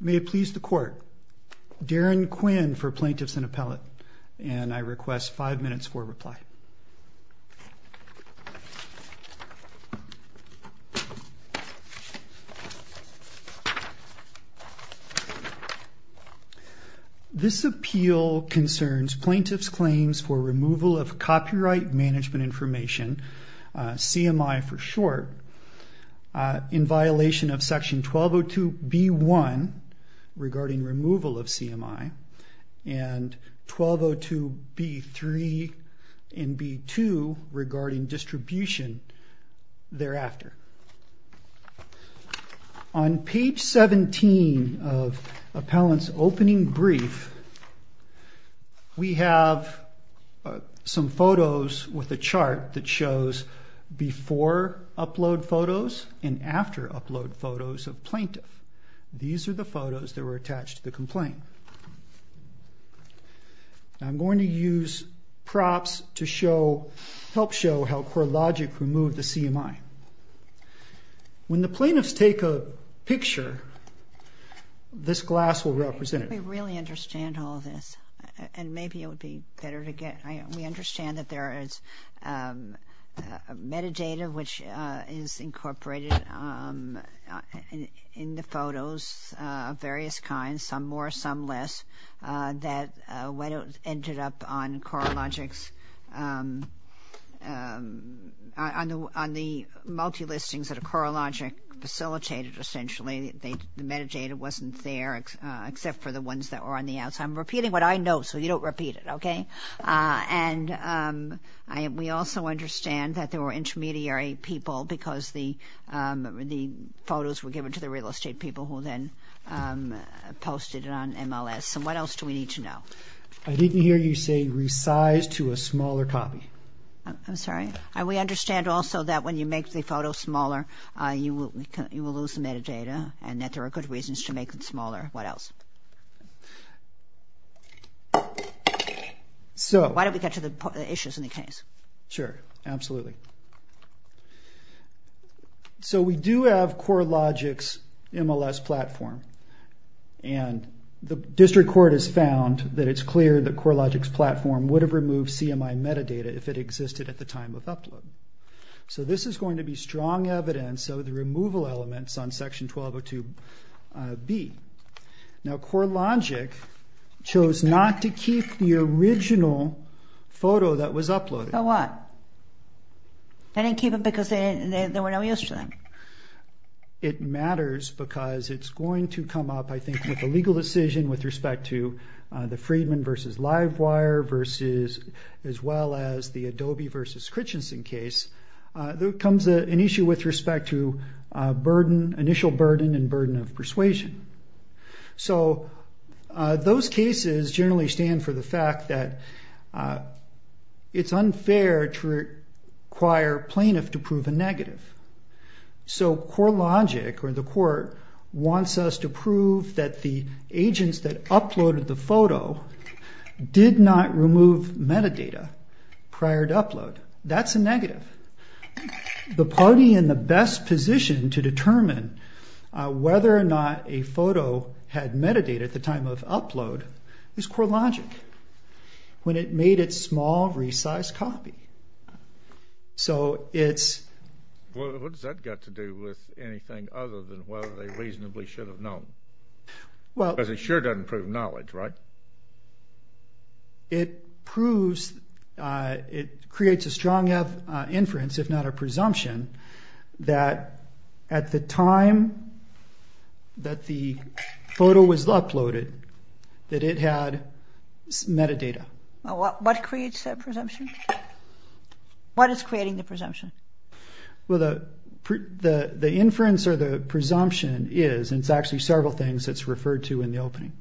May it please the court, Darren Quinn for Plaintiffs in Appellate and I request 5 minutes for reply. This appeal concerns plaintiffs claims for removal of copyright management information, CMI for short, in violation of section 1202B-1 regarding removal of CMI and 1202B-3 and B-2 regarding distribution thereafter. On page 17 of appellant's opening brief, we have some photos with a chart that shows before upload photos and after upload photos of plaintiff. These are the photos that were attached to the complaint. I'm going to use props to help show how Corelogic removed the CMI. When the plaintiffs take a picture, this glass will represent it. How do we really understand all of this? And maybe it would be better to get, we understand that there is metadata which is incorporated in the photos of various kinds, some more, some less, that ended up on Corelogic's, on the multi-listings that Corelogic facilitated essentially. The metadata wasn't there except for the ones that were on the outside. I'm repeating what I know so you don't repeat it, okay? And we also understand that there were intermediary people because the photos were given to the real estate people who then posted it on MLS. So what else do we need to know? I didn't hear you say resize to a smaller copy. I'm sorry? We understand also that when you make the photo smaller you will lose the metadata and that there are good reasons to make it smaller. What else? Why don't we get to the issues in the case? Sure, absolutely. So we do have Corelogic's MLS platform and the district court has found that it's clear that Corelogic's platform would have removed CMI metadata if it existed at the time of upload. So this is going to be strong evidence of the removal elements on section 1202B. Now Corelogic chose not to keep the original photo that was uploaded. The what? They didn't keep it because they were no use to them? It matters because it's going to come up, I think, with a legal decision with respect to the Friedman v. Livewire as well as the Adobe v. Christensen case. There comes an issue with respect to initial burden and burden of persuasion. So those cases generally stand for the fact that it's unfair to require a plaintiff to prove a negative. So Corelogic, or the court, wants us to prove that the agents that uploaded the photo did not remove metadata prior to upload. That's a negative. The party in the best position to determine whether or not a photo had metadata at the time of upload is Corelogic, when it made its small, resized copy. So it's... What does that got to do with anything other than whether they reasonably should have known? Because it sure doesn't prove knowledge, right? It proves, it creates a strong inference, if not a presumption, that at the time that the photo was uploaded, that it had metadata. What creates that presumption? What is creating the presumption? Well, the inference or the presumption is, and it's actually several things that's referred to in the opening,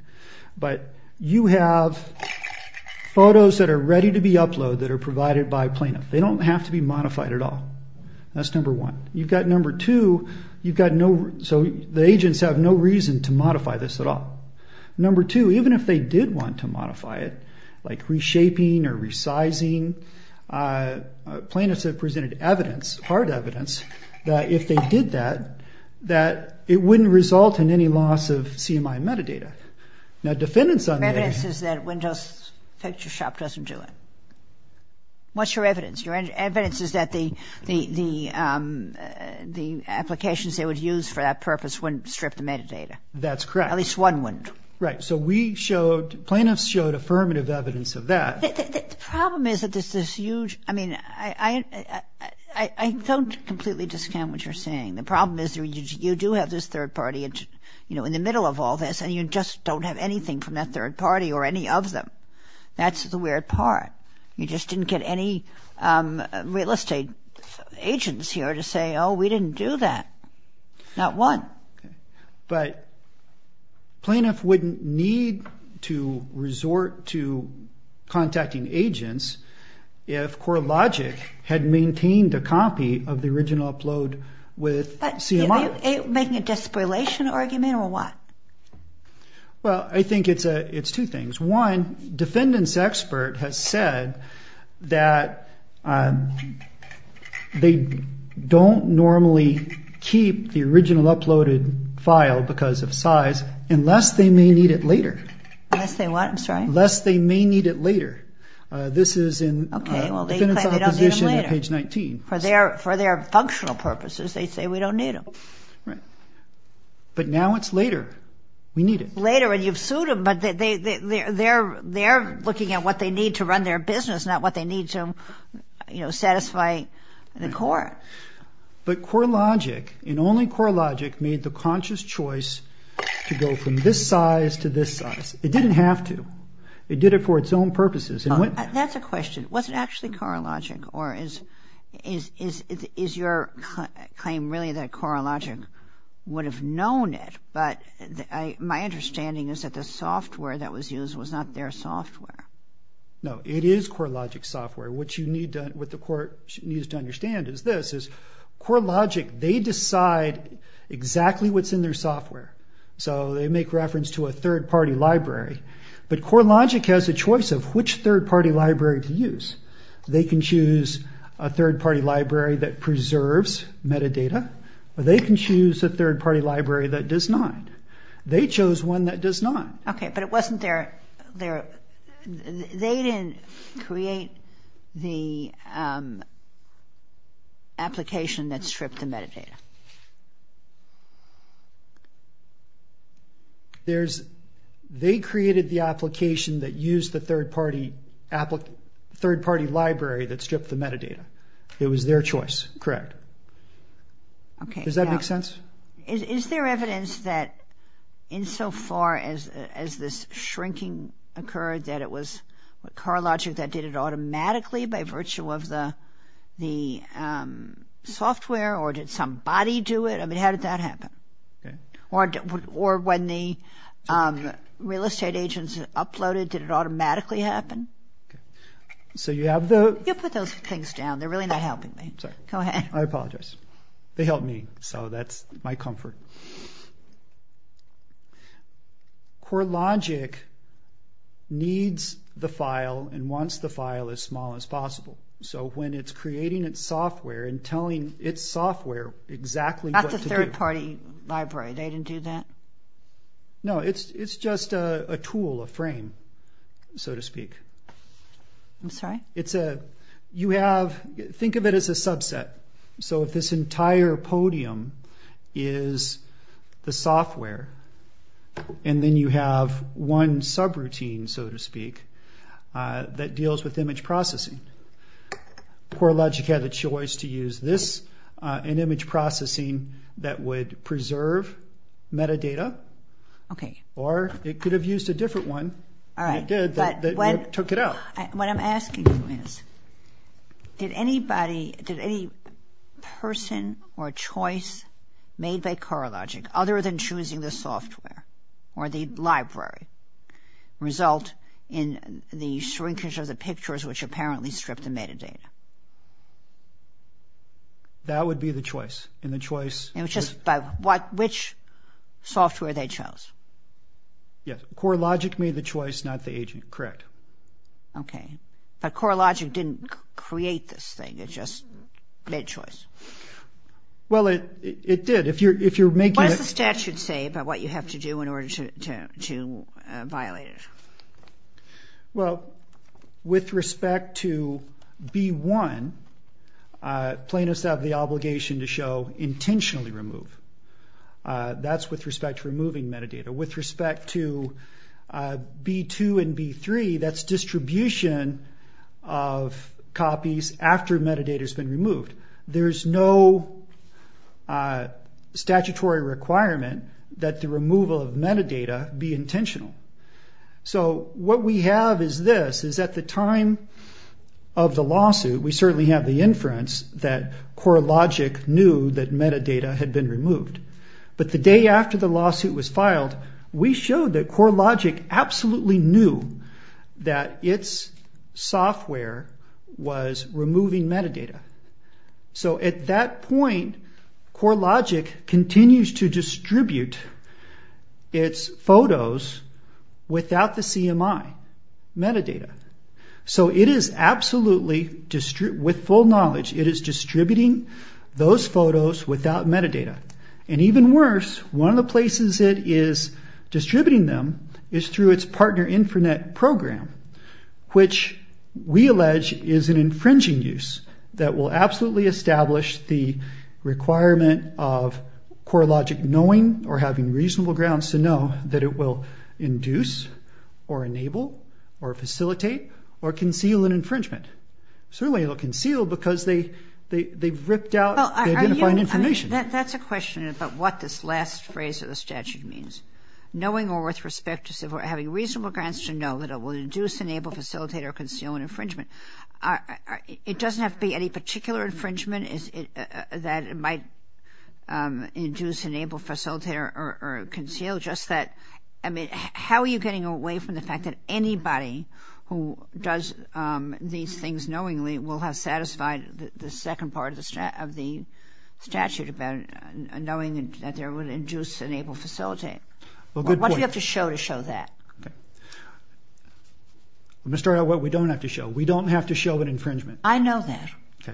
but you have photos that are ready to be uploaded that are provided by a plaintiff. They don't have to be modified at all. That's number one. You've got number two, you've got no... So the agents have no reason to modify this at all. Number two, even if they did want to modify it, like reshaping or resizing, plaintiffs have presented evidence, hard evidence, that if they did that, that it wouldn't result in any loss of CMI metadata. Now defendants on the other hand... Your evidence is that Windows Picture Shop doesn't do it. What's your evidence? Your evidence is that the applications they would use for that purpose wouldn't strip the metadata. That's correct. At least one wouldn't. Right, so we showed, plaintiffs showed affirmative evidence of that. The problem is that there's this huge... I mean, I don't completely discount what you're saying. The problem is you do have this third party in the middle of all this and you just don't have anything from that third party or any of them. That's the weird part. You just didn't get any real estate agents here to say, oh, we didn't do that. Not one. But plaintiff wouldn't need to resort to contacting agents if CoreLogic had maintained a copy of the original upload with CMI. Are you making a disparilation argument or what? Well, I think it's two things. One, defendant's expert has said that they don't normally keep the original uploaded file because of size unless they may need it later. Unless they what, I'm sorry? Unless they may need it later. This is in defendant's opposition at page 19. For their functional purposes, they say we don't need them. Right. But now it's later. We need it. But they're looking at what they need to run their business, not what they need to satisfy the court. But CoreLogic and only CoreLogic made the conscious choice to go from this size to this size. It didn't have to. It did it for its own purposes. That's a question. Was it actually CoreLogic or is your claim really that CoreLogic would have known it? But my understanding is that the software that was used was not their software. No, it is CoreLogic software. What the court needs to understand is this, is CoreLogic, they decide exactly what's in their software. So they make reference to a third-party library. But CoreLogic has a choice of which third-party library to use. They can choose a third-party library that preserves metadata or they can choose a third-party library that does not. They chose one that does not. Okay, but it wasn't their – they didn't create the application that stripped the metadata. They created the application that used the third-party library that stripped the metadata. It was their choice, correct. Does that make sense? Is there evidence that insofar as this shrinking occurred that it was CoreLogic that did it automatically by virtue of the software or did somebody do it? I mean, how did that happen? Or when the real estate agents uploaded, did it automatically happen? So you have the – You put those things down. They're really not helping me. Sorry. Go ahead. I apologize. They helped me, so that's my comfort. CoreLogic needs the file and wants the file as small as possible. So when it's creating its software and telling its software exactly what to do – That's a third-party library. They didn't do that? No, it's just a tool, a frame, so to speak. I'm sorry? It's a – you have – think of it as a subset. So if this entire podium is the software and then you have one subroutine, so to speak, that deals with image processing, CoreLogic had the choice to use this in image processing that would preserve metadata. Okay. Or it could have used a different one. All right. It did, but it took it out. What I'm asking you is, did anybody – did any person or choice made by CoreLogic other than choosing the software or the library result in the shrinkage of the pictures which apparently stripped the metadata? That would be the choice. And the choice – It was just by what – which software they chose. Yes. CoreLogic made the choice, not the agent. Correct. Okay. But CoreLogic didn't create this thing. It just made a choice. Well, it did. If you're making – What does the statute say about what you have to do in order to violate it? Well, with respect to B1, plaintiffs have the obligation to show intentionally removed. That's with respect to removing metadata. With respect to B2 and B3, that's distribution of copies after metadata has been removed. There's no statutory requirement that the removal of metadata be intentional. So what we have is this, is at the time of the lawsuit, we certainly have the inference that CoreLogic knew that metadata had been removed. But the day after the lawsuit was filed, we showed that CoreLogic absolutely knew that its software was removing metadata. So at that point, CoreLogic continues to distribute its photos without the CMI metadata. So it is absolutely – with full knowledge, it is distributing those photos without metadata. And even worse, one of the places it is distributing them is through its partner InfraNet program, which we allege is an infringing use that will absolutely establish the requirement of CoreLogic knowing or having reasonable grounds to know that it will induce or enable or facilitate or conceal an infringement. Certainly it will conceal because they've ripped out – they've identified information. That's a question about what this last phrase of the statute means. Knowing or with respect to – having reasonable grounds to know that it will induce, enable, facilitate, or conceal an infringement. It doesn't have to be any particular infringement that might induce, enable, facilitate, or conceal. I mean, how are you getting away from the fact that anybody who does these things knowingly will have satisfied the second part of the statute about knowing that there would induce, enable, facilitate? What do you have to show to show that? I'm going to start out what we don't have to show. We don't have to show an infringement. I know that. Okay.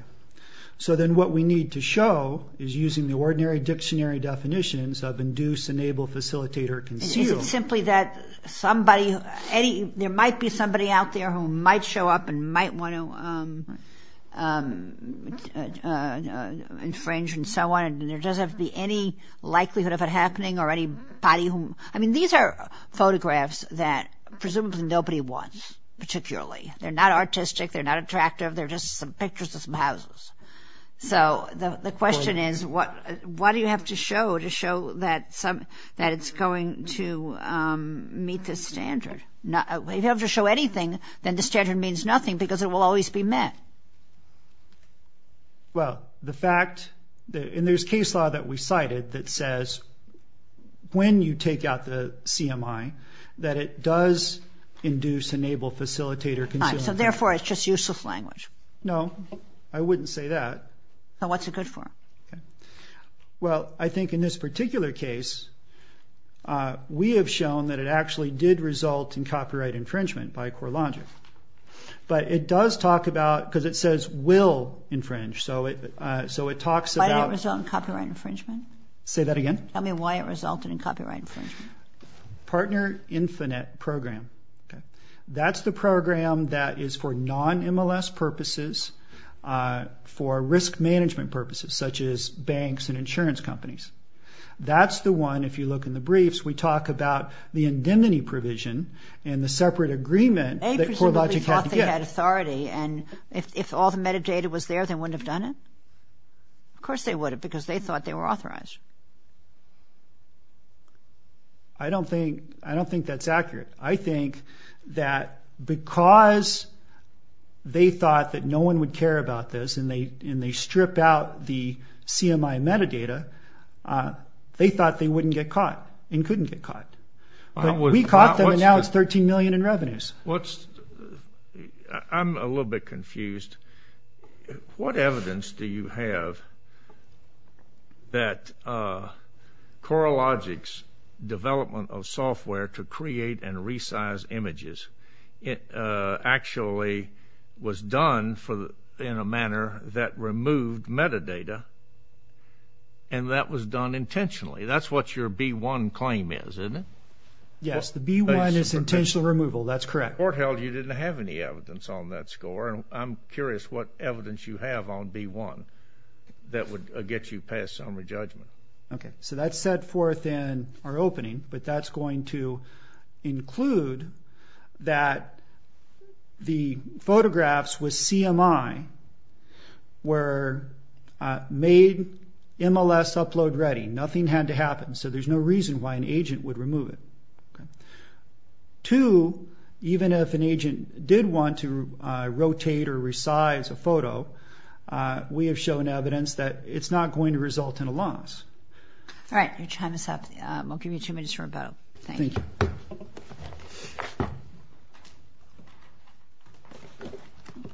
So then what we need to show is using the ordinary dictionary definitions of induce, enable, facilitate, or conceal. Is it simply that somebody – there might be somebody out there who might show up and might want to infringe and so on. There doesn't have to be any likelihood of it happening or anybody who – I mean, these are photographs that presumably nobody wants particularly. They're not artistic. They're not attractive. They're just some pictures of some houses. So the question is what do you have to show to show that it's going to meet the standard? If you have to show anything, then the standard means nothing because it will always be met. Well, the fact – and there's case law that we cited that says when you take out the CMI that it does induce, enable, facilitate, or conceal. So therefore, it's just useless language. No. I wouldn't say that. So what's it good for? Well, I think in this particular case, we have shown that it actually did result in copyright infringement by CoreLogic. But it does talk about – because it says will infringe, so it talks about – Why did it result in copyright infringement? Say that again. Tell me why it resulted in copyright infringement. Partner Infinite Program. Okay. That's the program that is for non-MLS purposes, for risk management purposes, such as banks and insurance companies. That's the one, if you look in the briefs, we talk about the indemnity provision and the separate agreement that CoreLogic had to get. They presumably thought they had authority, and if all the metadata was there, they wouldn't have done it? Of course they would have because they thought they were authorized. I don't think that's accurate. I think that because they thought that no one would care about this and they stripped out the CMI metadata, they thought they wouldn't get caught and couldn't get caught. We caught them, and now it's $13 million in revenues. I'm a little bit confused. What evidence do you have that CoreLogic's development of software to create and resize images actually was done in a manner that removed metadata and that was done intentionally? That's what your B1 claim is, isn't it? Yes, the B1 is intentional removal. That's correct. Court held you didn't have any evidence on that score, and I'm curious what evidence you have on B1 that would get you past summary judgment. Okay. That's set forth in our opening, but that's going to include that the photographs with CMI were made MLS upload ready. Nothing had to happen, so there's no reason why an agent would remove it. Two, even if an agent did want to rotate or resize a photo, we have shown evidence that it's not going to result in a loss. All right. Your time is up. I'll give you two minutes for rebuttal. Thank you. Thank you.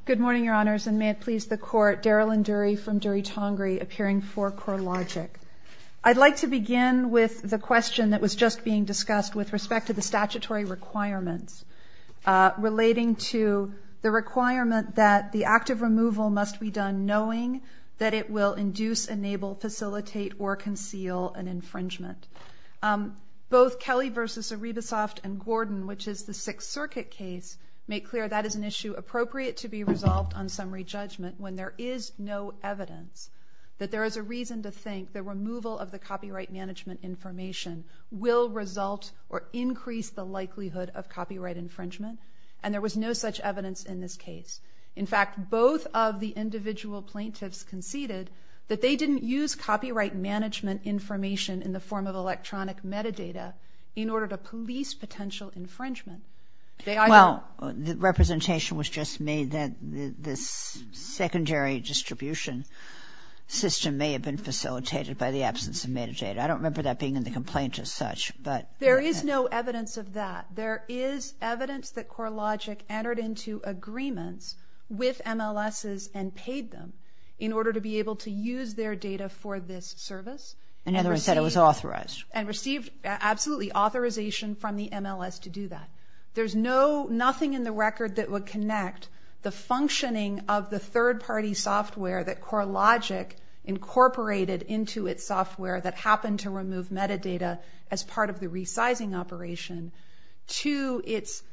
Good morning, Your Honors, and may it please the Court, Daryl and Dury from Dury-Tongari, appearing for CoreLogic. I'd like to begin with the question that was just being discussed with respect to the statutory requirements relating to the requirement that the active removal must be done knowing that it will induce, enable, facilitate, or conceal an infringement. Both Kelly v. Arribasoft and Gordon, which is the Sixth Circuit case, make clear that is an issue appropriate to be resolved on summary judgment when there is no evidence, that there is a reason to think the removal of the copyright management information will result or increase the likelihood of copyright infringement, and there was no such evidence in this case. In fact, both of the individual plaintiffs conceded that they didn't use copyright management information in the form of electronic metadata in order to police potential infringement. Well, the representation was just made that this secondary distribution system may have been facilitated by the absence of metadata. I don't remember that being in the complaint as such. There is no evidence of that. There is evidence that CoreLogic entered into agreements with MLSs and paid them in order to be able to use their data for this service. In other words, it was authorized. And received absolutely authorization from the MLS to do that. There's nothing in the record that would connect the functioning of the third-party software that CoreLogic incorporated into its software that happened to remove metadata as part of the resizing operation to its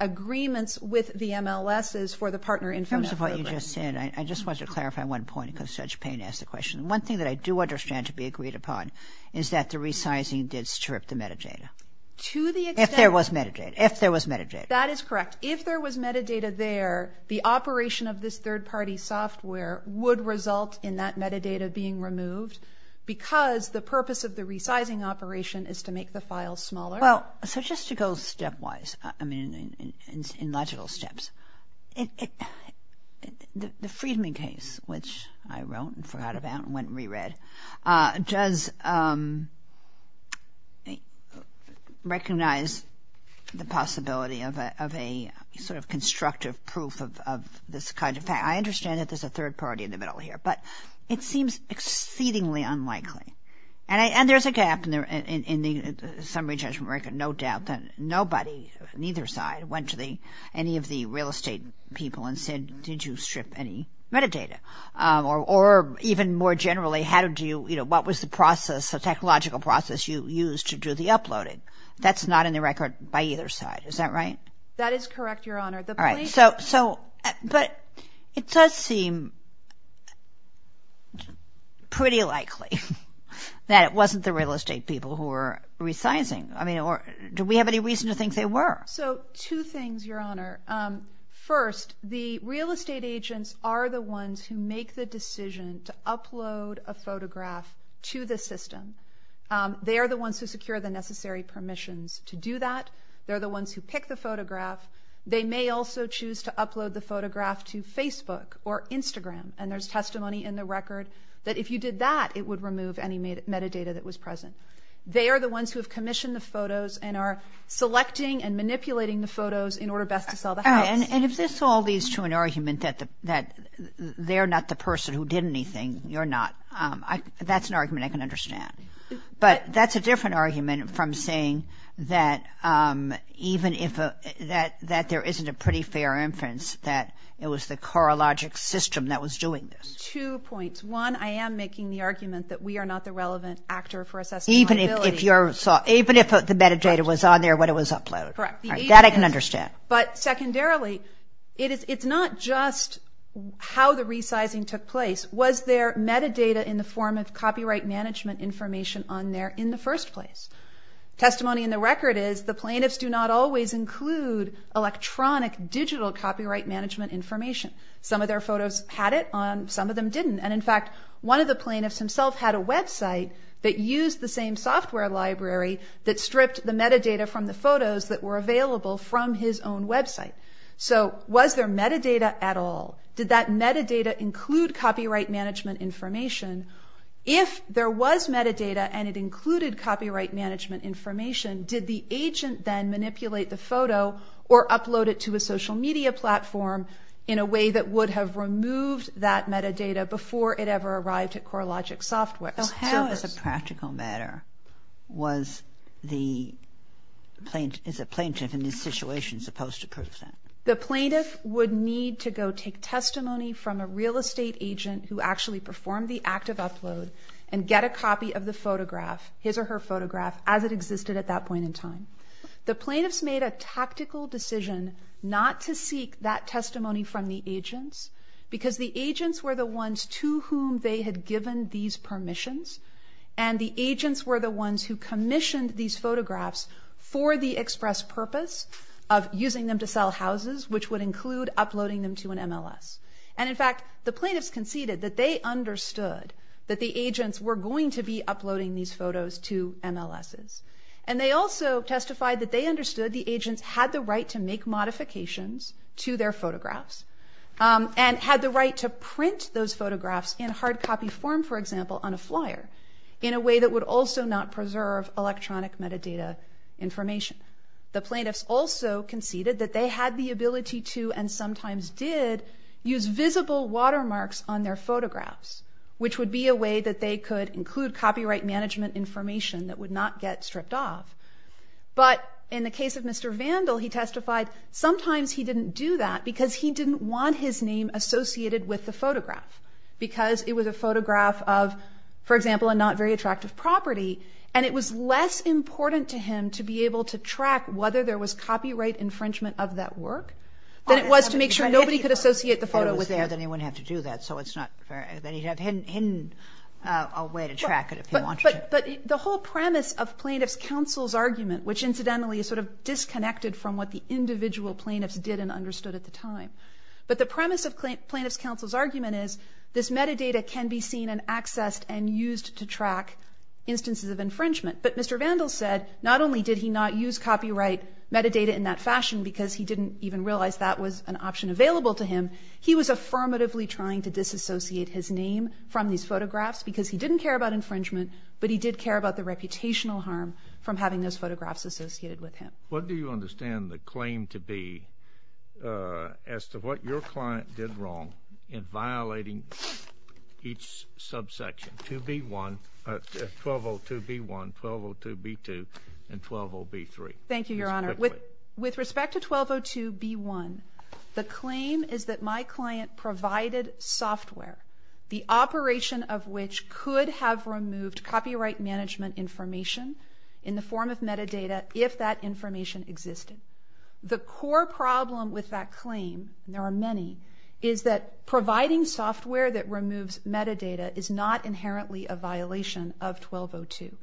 agreements with the MLSs for the Partner InfoNet program. In terms of what you just said, I just want to clarify one point because Judge Payne asked the question. One thing that I do understand to be agreed upon is that the resizing did strip the metadata. If there was metadata. If there was metadata. That is correct. If there was metadata there, the operation of this third-party software would result in that metadata being removed because the purpose of the resizing operation is to make the file smaller. Well, so just to go stepwise, I mean in logical steps, the Friedman case, which I wrote and forgot about and went and reread, does recognize the possibility of a sort of constructive proof of this kind of fact. I understand that there's a third-party in the middle here, but it seems exceedingly unlikely. And there's a gap in the summary judgment record. No doubt that nobody on either side went to any of the real estate people and said, did you strip any metadata? Or even more generally, what was the process, the technological process you used to do the uploading? That's not in the record by either side. Is that right? That is correct, Your Honor. But it does seem pretty likely that it wasn't the real estate people who were resizing. Do we have any reason to think they were? So two things, Your Honor. First, the real estate agents are the ones who make the decision to upload a photograph to the system. They are the ones who secure the necessary permissions to do that. They're the ones who pick the photograph. They may also choose to upload the photograph to Facebook or Instagram, and there's testimony in the record that if you did that, it would remove any metadata that was present. They are the ones who have commissioned the photos and are selecting and manipulating the photos in order best to sell the house. And if this all leads to an argument that they're not the person who did anything, you're not, that's an argument I can understand. But that's a different argument from saying that even if there isn't a pretty fair inference that it was the CoreLogic system that was doing this. Two points. One, I am making the argument that we are not the relevant actor for assessing liability. Even if the metadata was on there when it was uploaded. Correct. That I can understand. But secondarily, it's not just how the resizing took place. Was there metadata in the form of copyright management information on there in the first place? Testimony in the record is the plaintiffs do not always include electronic, digital copyright management information. Some of their photos had it on, some of them didn't. And in fact, one of the plaintiffs himself had a website that used the same software library that stripped the metadata from the photos that were available from his own website. So was there metadata at all? Did that metadata include copyright management information? If there was metadata and it included copyright management information, did the agent then manipulate the photo or upload it to a social media platform in a way that would have removed that metadata before it ever arrived at CoreLogic Software? How, as a practical matter, was the plaintiff in this situation supposed to prove that? The plaintiff would need to go take testimony from a real estate agent who actually performed the act of upload and get a copy of the photograph, his or her photograph, as it existed at that point in time. The plaintiffs made a tactical decision not to seek that testimony from the agents because the agents were the ones to whom they had given these permissions, and the agents were the ones who commissioned these photographs for the express purpose of using them to sell houses, which would include uploading them to an MLS. And in fact, the plaintiffs conceded that they understood that the agents were going to be uploading these photos to MLSs. And they also testified that they understood the agents had the right to make modifications to their photographs and had the right to print those photographs in hard copy form, for example, on a flyer, in a way that would also not preserve electronic metadata information. The plaintiffs also conceded that they had the ability to and sometimes did use visible watermarks on their photographs, which would be a way that they could include copyright management information that would not get stripped off. But in the case of Mr. Vandal, he testified sometimes he didn't do that because he didn't want his name associated with the photograph because it was a photograph of, for example, a not very attractive property, and it was less important to him to be able to track whether there was copyright infringement of that work than it was to make sure nobody could associate the photo with him. Well, then he wouldn't have to do that, so it's not fair. Then he'd have hidden a way to track it if he wanted to. But the whole premise of Plaintiff's Counsel's argument, which incidentally is sort of disconnected from what the individual plaintiffs did and understood at the time, but the premise of Plaintiff's Counsel's argument is this metadata can be seen and accessed and used to track instances of infringement. But Mr. Vandal said not only did he not use copyright metadata in that fashion because he didn't even realize that was an option available to him, he was affirmatively trying to disassociate his name from these photographs because he didn't care about infringement, but he did care about the reputational harm from having those photographs associated with him. What do you understand the claim to be as to what your client did wrong in violating each subsection, 2B1, 1202B1, 1202B2, and 120B3? Thank you, Your Honor. With respect to 1202B1, the claim is that my client provided software, the operation of which could have removed copyright management information in the form of metadata if that information existed. The core problem with that claim, and there are many, is that providing software that removes metadata is not inherently a violation of 1202.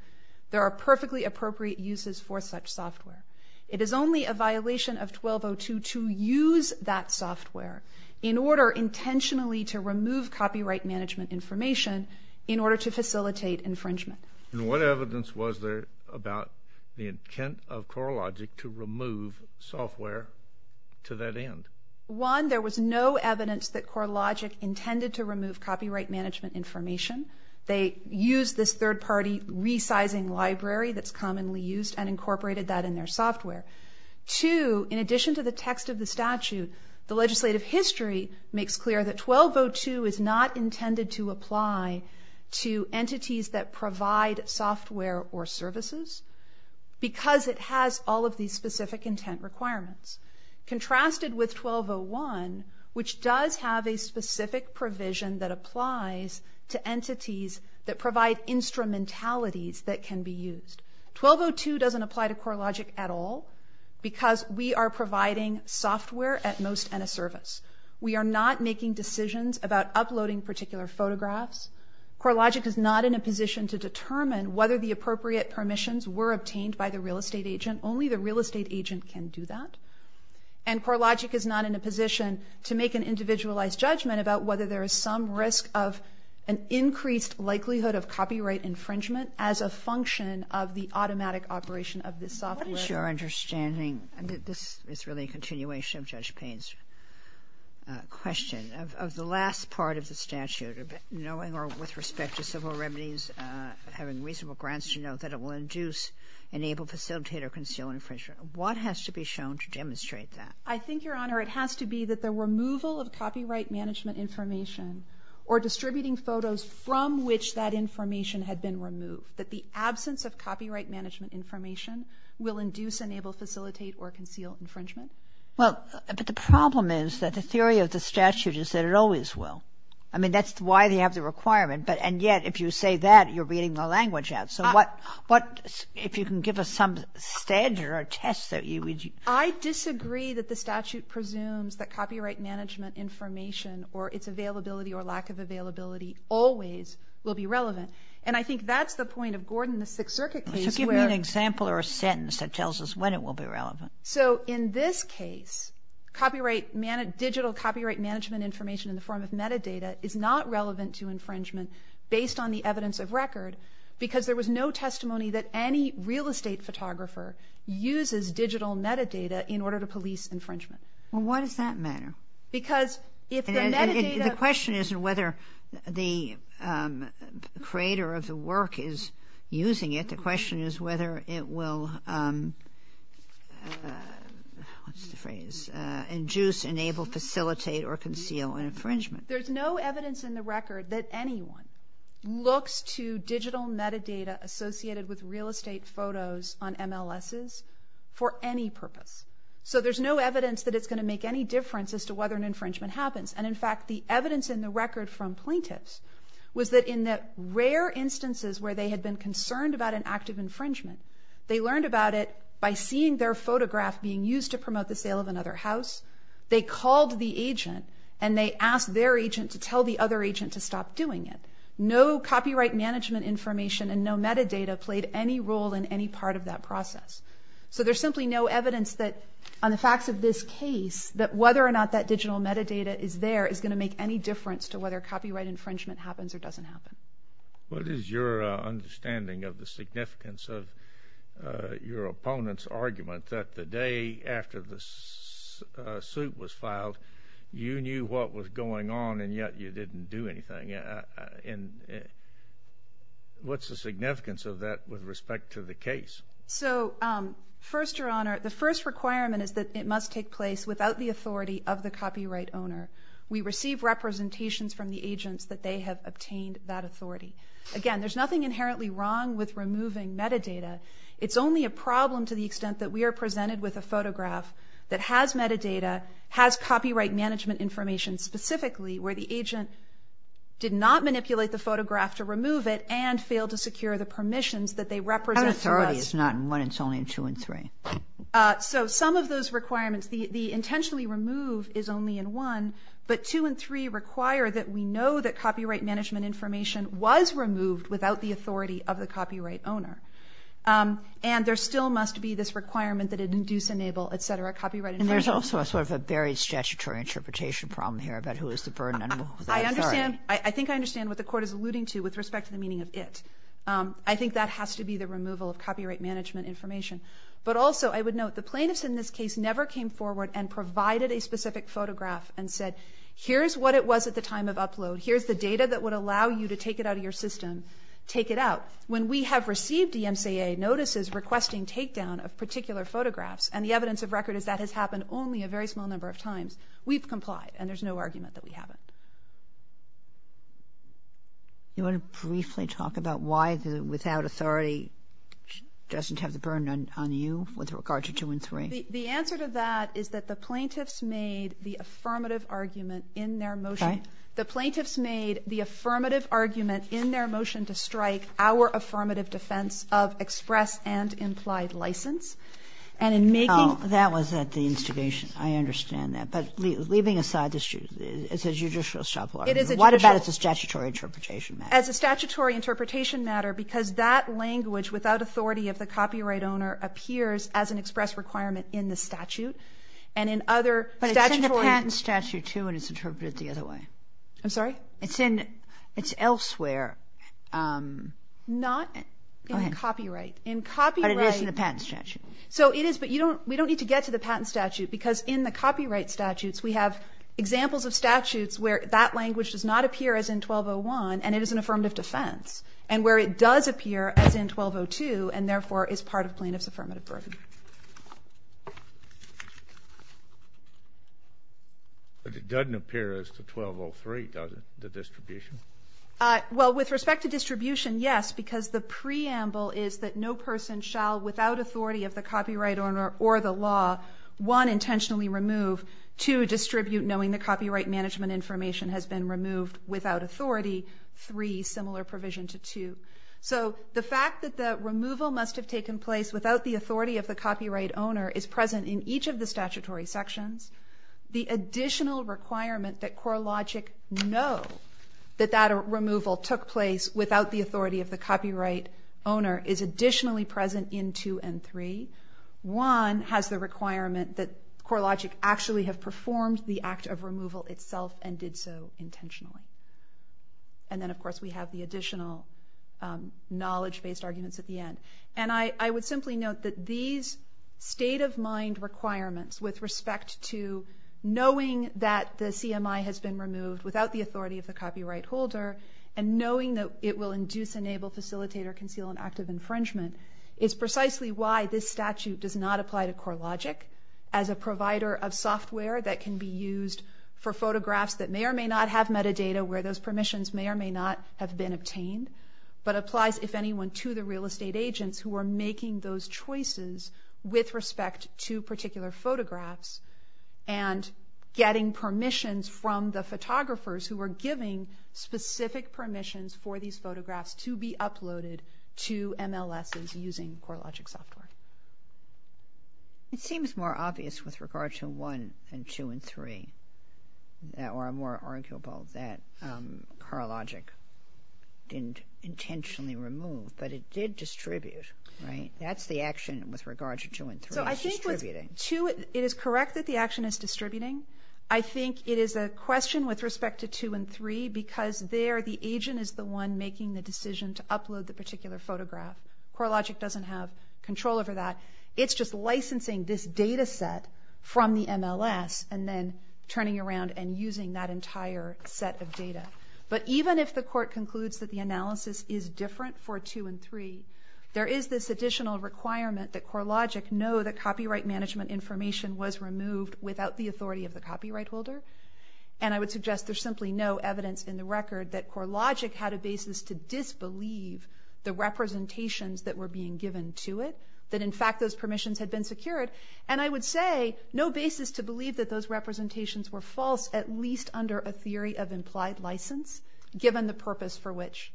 There are perfectly appropriate uses for such software. It is only a violation of 1202 to use that software in order intentionally to remove copyright management information in order to facilitate infringement. And what evidence was there about the intent of CoreLogic to remove software to that end? One, there was no evidence that CoreLogic intended to remove copyright management information. They used this third-party resizing library that's commonly used and incorporated that in their software. Two, in addition to the text of the statute, the legislative history makes clear that 1202 is not intended to apply to entities that provide software or services because it has all of these specific intent requirements. Contrasted with 1201, which does have a specific provision that applies to entities that provide instrumentalities that can be used. 1202 doesn't apply to CoreLogic at all because we are providing software at most and a service. We are not making decisions about uploading particular photographs. CoreLogic is not in a position to determine whether the appropriate permissions were obtained by the real estate agent. Only the real estate agent can do that. And CoreLogic is not in a position to make an individualized judgment about whether there is some risk of an increased likelihood of copyright infringement as a function of the automatic operation of this software. What is your understanding, and this is really a continuation of Judge Payne's question, of the last part of the statute, knowing or with respect to civil remedies, having reasonable grants to know that it will induce, enable, facilitate, or conceal infringement. What has to be shown to demonstrate that? I think, Your Honor, it has to be that the removal of copyright management information or distributing photos from which that information had been removed, that the absence of copyright management information will induce, enable, facilitate, or conceal infringement. Well, but the problem is that the theory of the statute is that it always will. I mean, that's why they have the requirement. And yet, if you say that, you're reading the language out. So if you can give us some stage or a test that you would use. I disagree that the statute presumes that copyright management information or its availability or lack of availability always will be relevant. And I think that's the point of Gordon, the Sixth Circuit case. Give me an example or a sentence that tells us when it will be relevant. So in this case, digital copyright management information in the form of metadata is not relevant to infringement based on the evidence of record because there was no testimony that any real estate photographer uses digital metadata in order to police infringement. Well, why does that matter? Because if the metadata... The question isn't whether the creator of the work is using it. The question is whether it will, what's the phrase, induce, enable, facilitate, or conceal an infringement. There's no evidence in the record that anyone looks to digital metadata associated with real estate photos on MLSs for any purpose. So there's no evidence that it's going to make any difference as to whether an infringement happens. And in fact, the evidence in the record from plaintiffs was that in the rare instances where they had been concerned about an act of infringement, they learned about it by seeing their photograph being used to promote the sale of another house. They called the agent and they asked their agent to tell the other agent to stop doing it. No copyright management information and no metadata played any role in any part of that process. So there's simply no evidence that on the facts of this case that whether or not that digital metadata is there is going to make any difference to whether copyright infringement happens or doesn't happen. What is your understanding of the significance of your opponent's argument that the day after the suit was filed, you knew what was going on and yet you didn't do anything? What's the significance of that with respect to the case? So first, Your Honor, the first requirement is that it must take place without the authority of the copyright owner. We receive representations from the agents that they have obtained that authority. Again, there's nothing inherently wrong with removing metadata. It's only a problem to the extent that we are presented with a photograph that has metadata, has copyright management information specifically where the agent did not manipulate the photograph to remove it and failed to secure the permissions that they represent to us. That authority is not in one, it's only in two and three. So some of those requirements, the intentionally remove is only in one, but two and three require that we know that copyright management information was removed without the authority of the copyright owner. And there still must be this requirement that it induce, enable, etc., copyright information. And there's also sort of a very statutory interpretation problem here about who is the burden and who is the authority. I think I understand what the Court is alluding to with respect to the meaning of it. I think that has to be the removal of copyright management information. But also I would note the plaintiffs in this case never came forward and provided a specific photograph and said, here's what it was at the time of upload, here's the data that would allow you to take it out of your system, take it out. When we have received DMCA notices requesting takedown of particular photographs, and the evidence of record is that has happened only a very small number of times, we've complied and there's no argument that we haven't. You want to briefly talk about why the without authority doesn't have the burden on you with regard to two and three? The answer to that is that the plaintiffs made the affirmative argument in their motion. Right. The plaintiffs made the affirmative argument in their motion to strike our affirmative defense of express and implied license. And in making... Oh, that was at the instigation. I understand that. But leaving aside this, it's a judicial struggle. It is a judicial... What about as a statutory interpretation matter? As a statutory interpretation matter, because that language without authority of the copyright owner appears as an express requirement in the statute, and in other statutory... I'm sorry? It's in... It's elsewhere. Not in copyright. Go ahead. In copyright... But it is in the patent statute. So it is, but we don't need to get to the patent statute, because in the copyright statutes we have examples of statutes where that language does not appear as in 1201, and it is an affirmative defense, and where it does appear as in 1202, and therefore is part of plaintiff's affirmative burden. But it doesn't appear as to 1203, does it, the distribution? Well, with respect to distribution, yes, because the preamble is that no person shall, without authority of the copyright owner or the law, one, intentionally remove, two, distribute, knowing the copyright management information has been removed, without authority, three, similar provision to two. So the fact that the removal must have taken place without the authority of the copyright owner is present in each of the statutory sections. The additional requirement that CoreLogic know that that removal took place without the authority of the copyright owner is additionally present in two and three. One has the requirement that CoreLogic actually have performed the act of removal itself and did so intentionally. And then, of course, we have the additional knowledge-based arguments at the end. And I would simply note that these state-of-mind requirements with respect to knowing that the CMI has been removed without the authority of the copyright holder and knowing that it will induce, enable, facilitate, or conceal an act of infringement is precisely why this statute does not apply to CoreLogic as a provider of software that can be used for photographs that may or may not have metadata, where those permissions may or may not have been obtained, but applies, if anyone, to the real estate agents who are making those choices with respect to particular photographs and getting permissions from the photographers who are giving specific permissions for these photographs to be uploaded to MLSs using CoreLogic software. It seems more obvious with regard to one and two and three, or more arguable that CoreLogic didn't intentionally remove, but it did distribute, right? That's the action with regard to two and three. So I think with two, it is correct that the action is distributing. I think it is a question with respect to two and three because there the agent is the one making the decision to upload the particular photograph. CoreLogic doesn't have control over that. It's just licensing this data set from the MLS and then turning around and using that entire set of data. But even if the court concludes that the analysis is different for two and three, there is this additional requirement that CoreLogic know that copyright management information was removed without the authority of the copyright holder, and I would suggest there's simply no evidence in the record that CoreLogic had a basis to disbelieve the representations that were being given to it, that in fact those permissions had been secured, and I would say no basis to believe that those representations were false, at least under a theory of implied license, given the purpose for which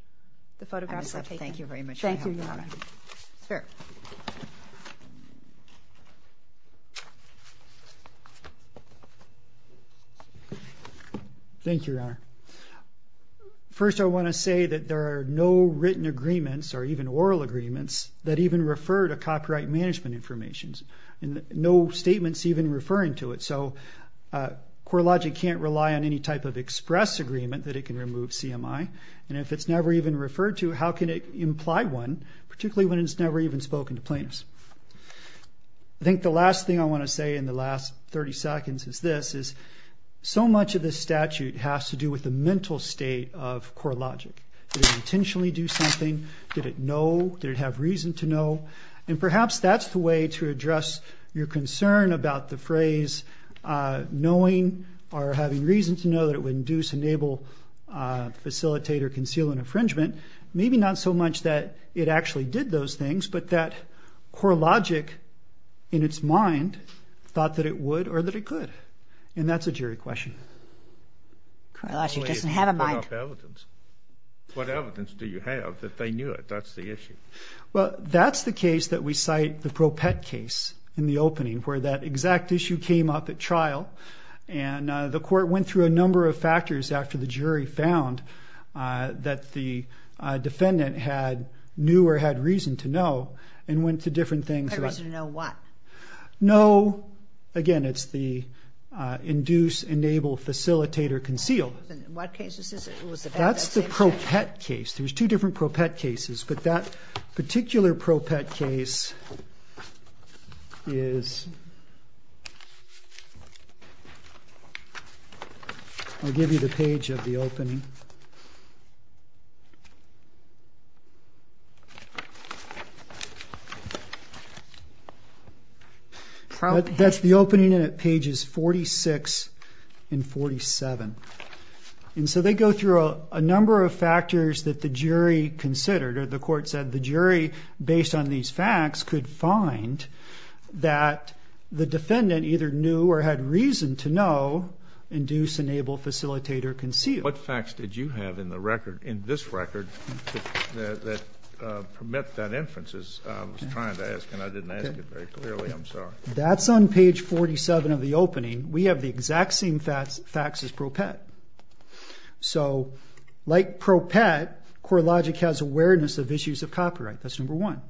the photographs were taken. Thank you very much. Thank you, Your Honor. Thank you, Your Honor. First I want to say that there are no written agreements or even oral agreements that even refer to copyright management information. No statements even referring to it. So CoreLogic can't rely on any type of express agreement that it can remove CMI, and if it's never even referred to, how can it imply one, particularly when it's never even spoken to plaintiffs? I think the last thing I want to say in the last 30 seconds is this, is so much of this statute has to do with the mental state of CoreLogic. Did it intentionally do something? Did it know? Did it have reason to know? And perhaps that's the way to address your concern about the phrase knowing or having reason to know that it would induce, enable, facilitate, or conceal an infringement. Maybe not so much that it actually did those things, but that CoreLogic, in its mind, thought that it would or that it could, and that's a jury question. CoreLogic doesn't have a mind. What evidence do you have that they knew it? That's the issue. Well, that's the case that we cite, the ProPET case in the opening, where that exact issue came up at trial, and the court went through a number of factors after the jury found that the defendant knew or had reason to know and went to different things. Had reason to know what? Know, again, it's the induce, enable, facilitate, or conceal. In what case is this? That's the ProPET case. There's two different ProPET cases, but that particular ProPET case is, I'll give you the page of the opening. That's the opening, and it pages 46 and 47. And so they go through a number of factors that the jury considered, or the court said the jury, based on these facts, could find that the defendant either knew or had reason to know, induce, enable, facilitate, or conceal. What facts did you have in this record that permit that inference? I was trying to ask, and I didn't ask it very clearly. I'm sorry. That's on page 47 of the opening. We have the exact same facts as ProPET. So like ProPET, CoreLogic has awareness of issues of copyright. That's number one.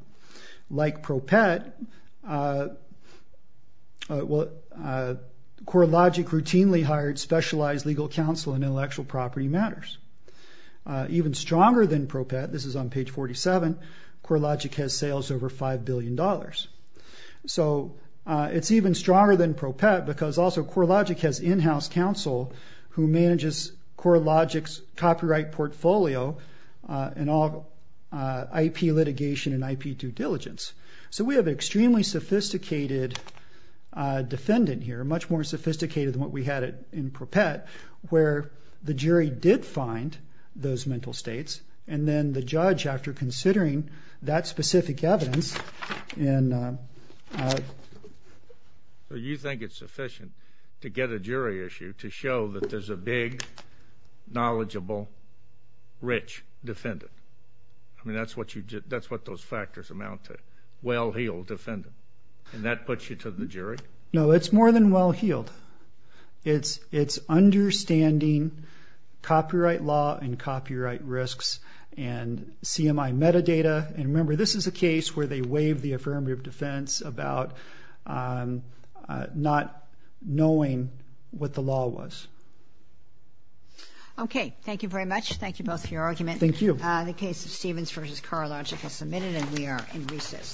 Like ProPET, CoreLogic routinely hired specialized legal counsel in intellectual property matters. Even stronger than ProPET, this is on page 47, CoreLogic has sales over $5 billion. So it's even stronger than ProPET because also CoreLogic has in-house counsel who manages CoreLogic's copyright portfolio and all IP litigation and IP due diligence. So we have an extremely sophisticated defendant here, much more sophisticated than what we had in ProPET, where the jury did find those mental states, and then the judge, after considering that specific evidence. So you think it's sufficient to get a jury issue to show that there's a big, knowledgeable, rich defendant? I mean, that's what those factors amount to, well-heeled defendant. And that puts you to the jury? No, it's more than well-heeled. It's understanding copyright law and copyright risks and CMI metadata. And remember, this is a case where they waive the affirmative defense about not knowing what the law was. Okay, thank you very much. Thank you both for your argument. Thank you. The case of Stevens v. CoreLogic is submitted, and we are in recess. Thank you. Thank you.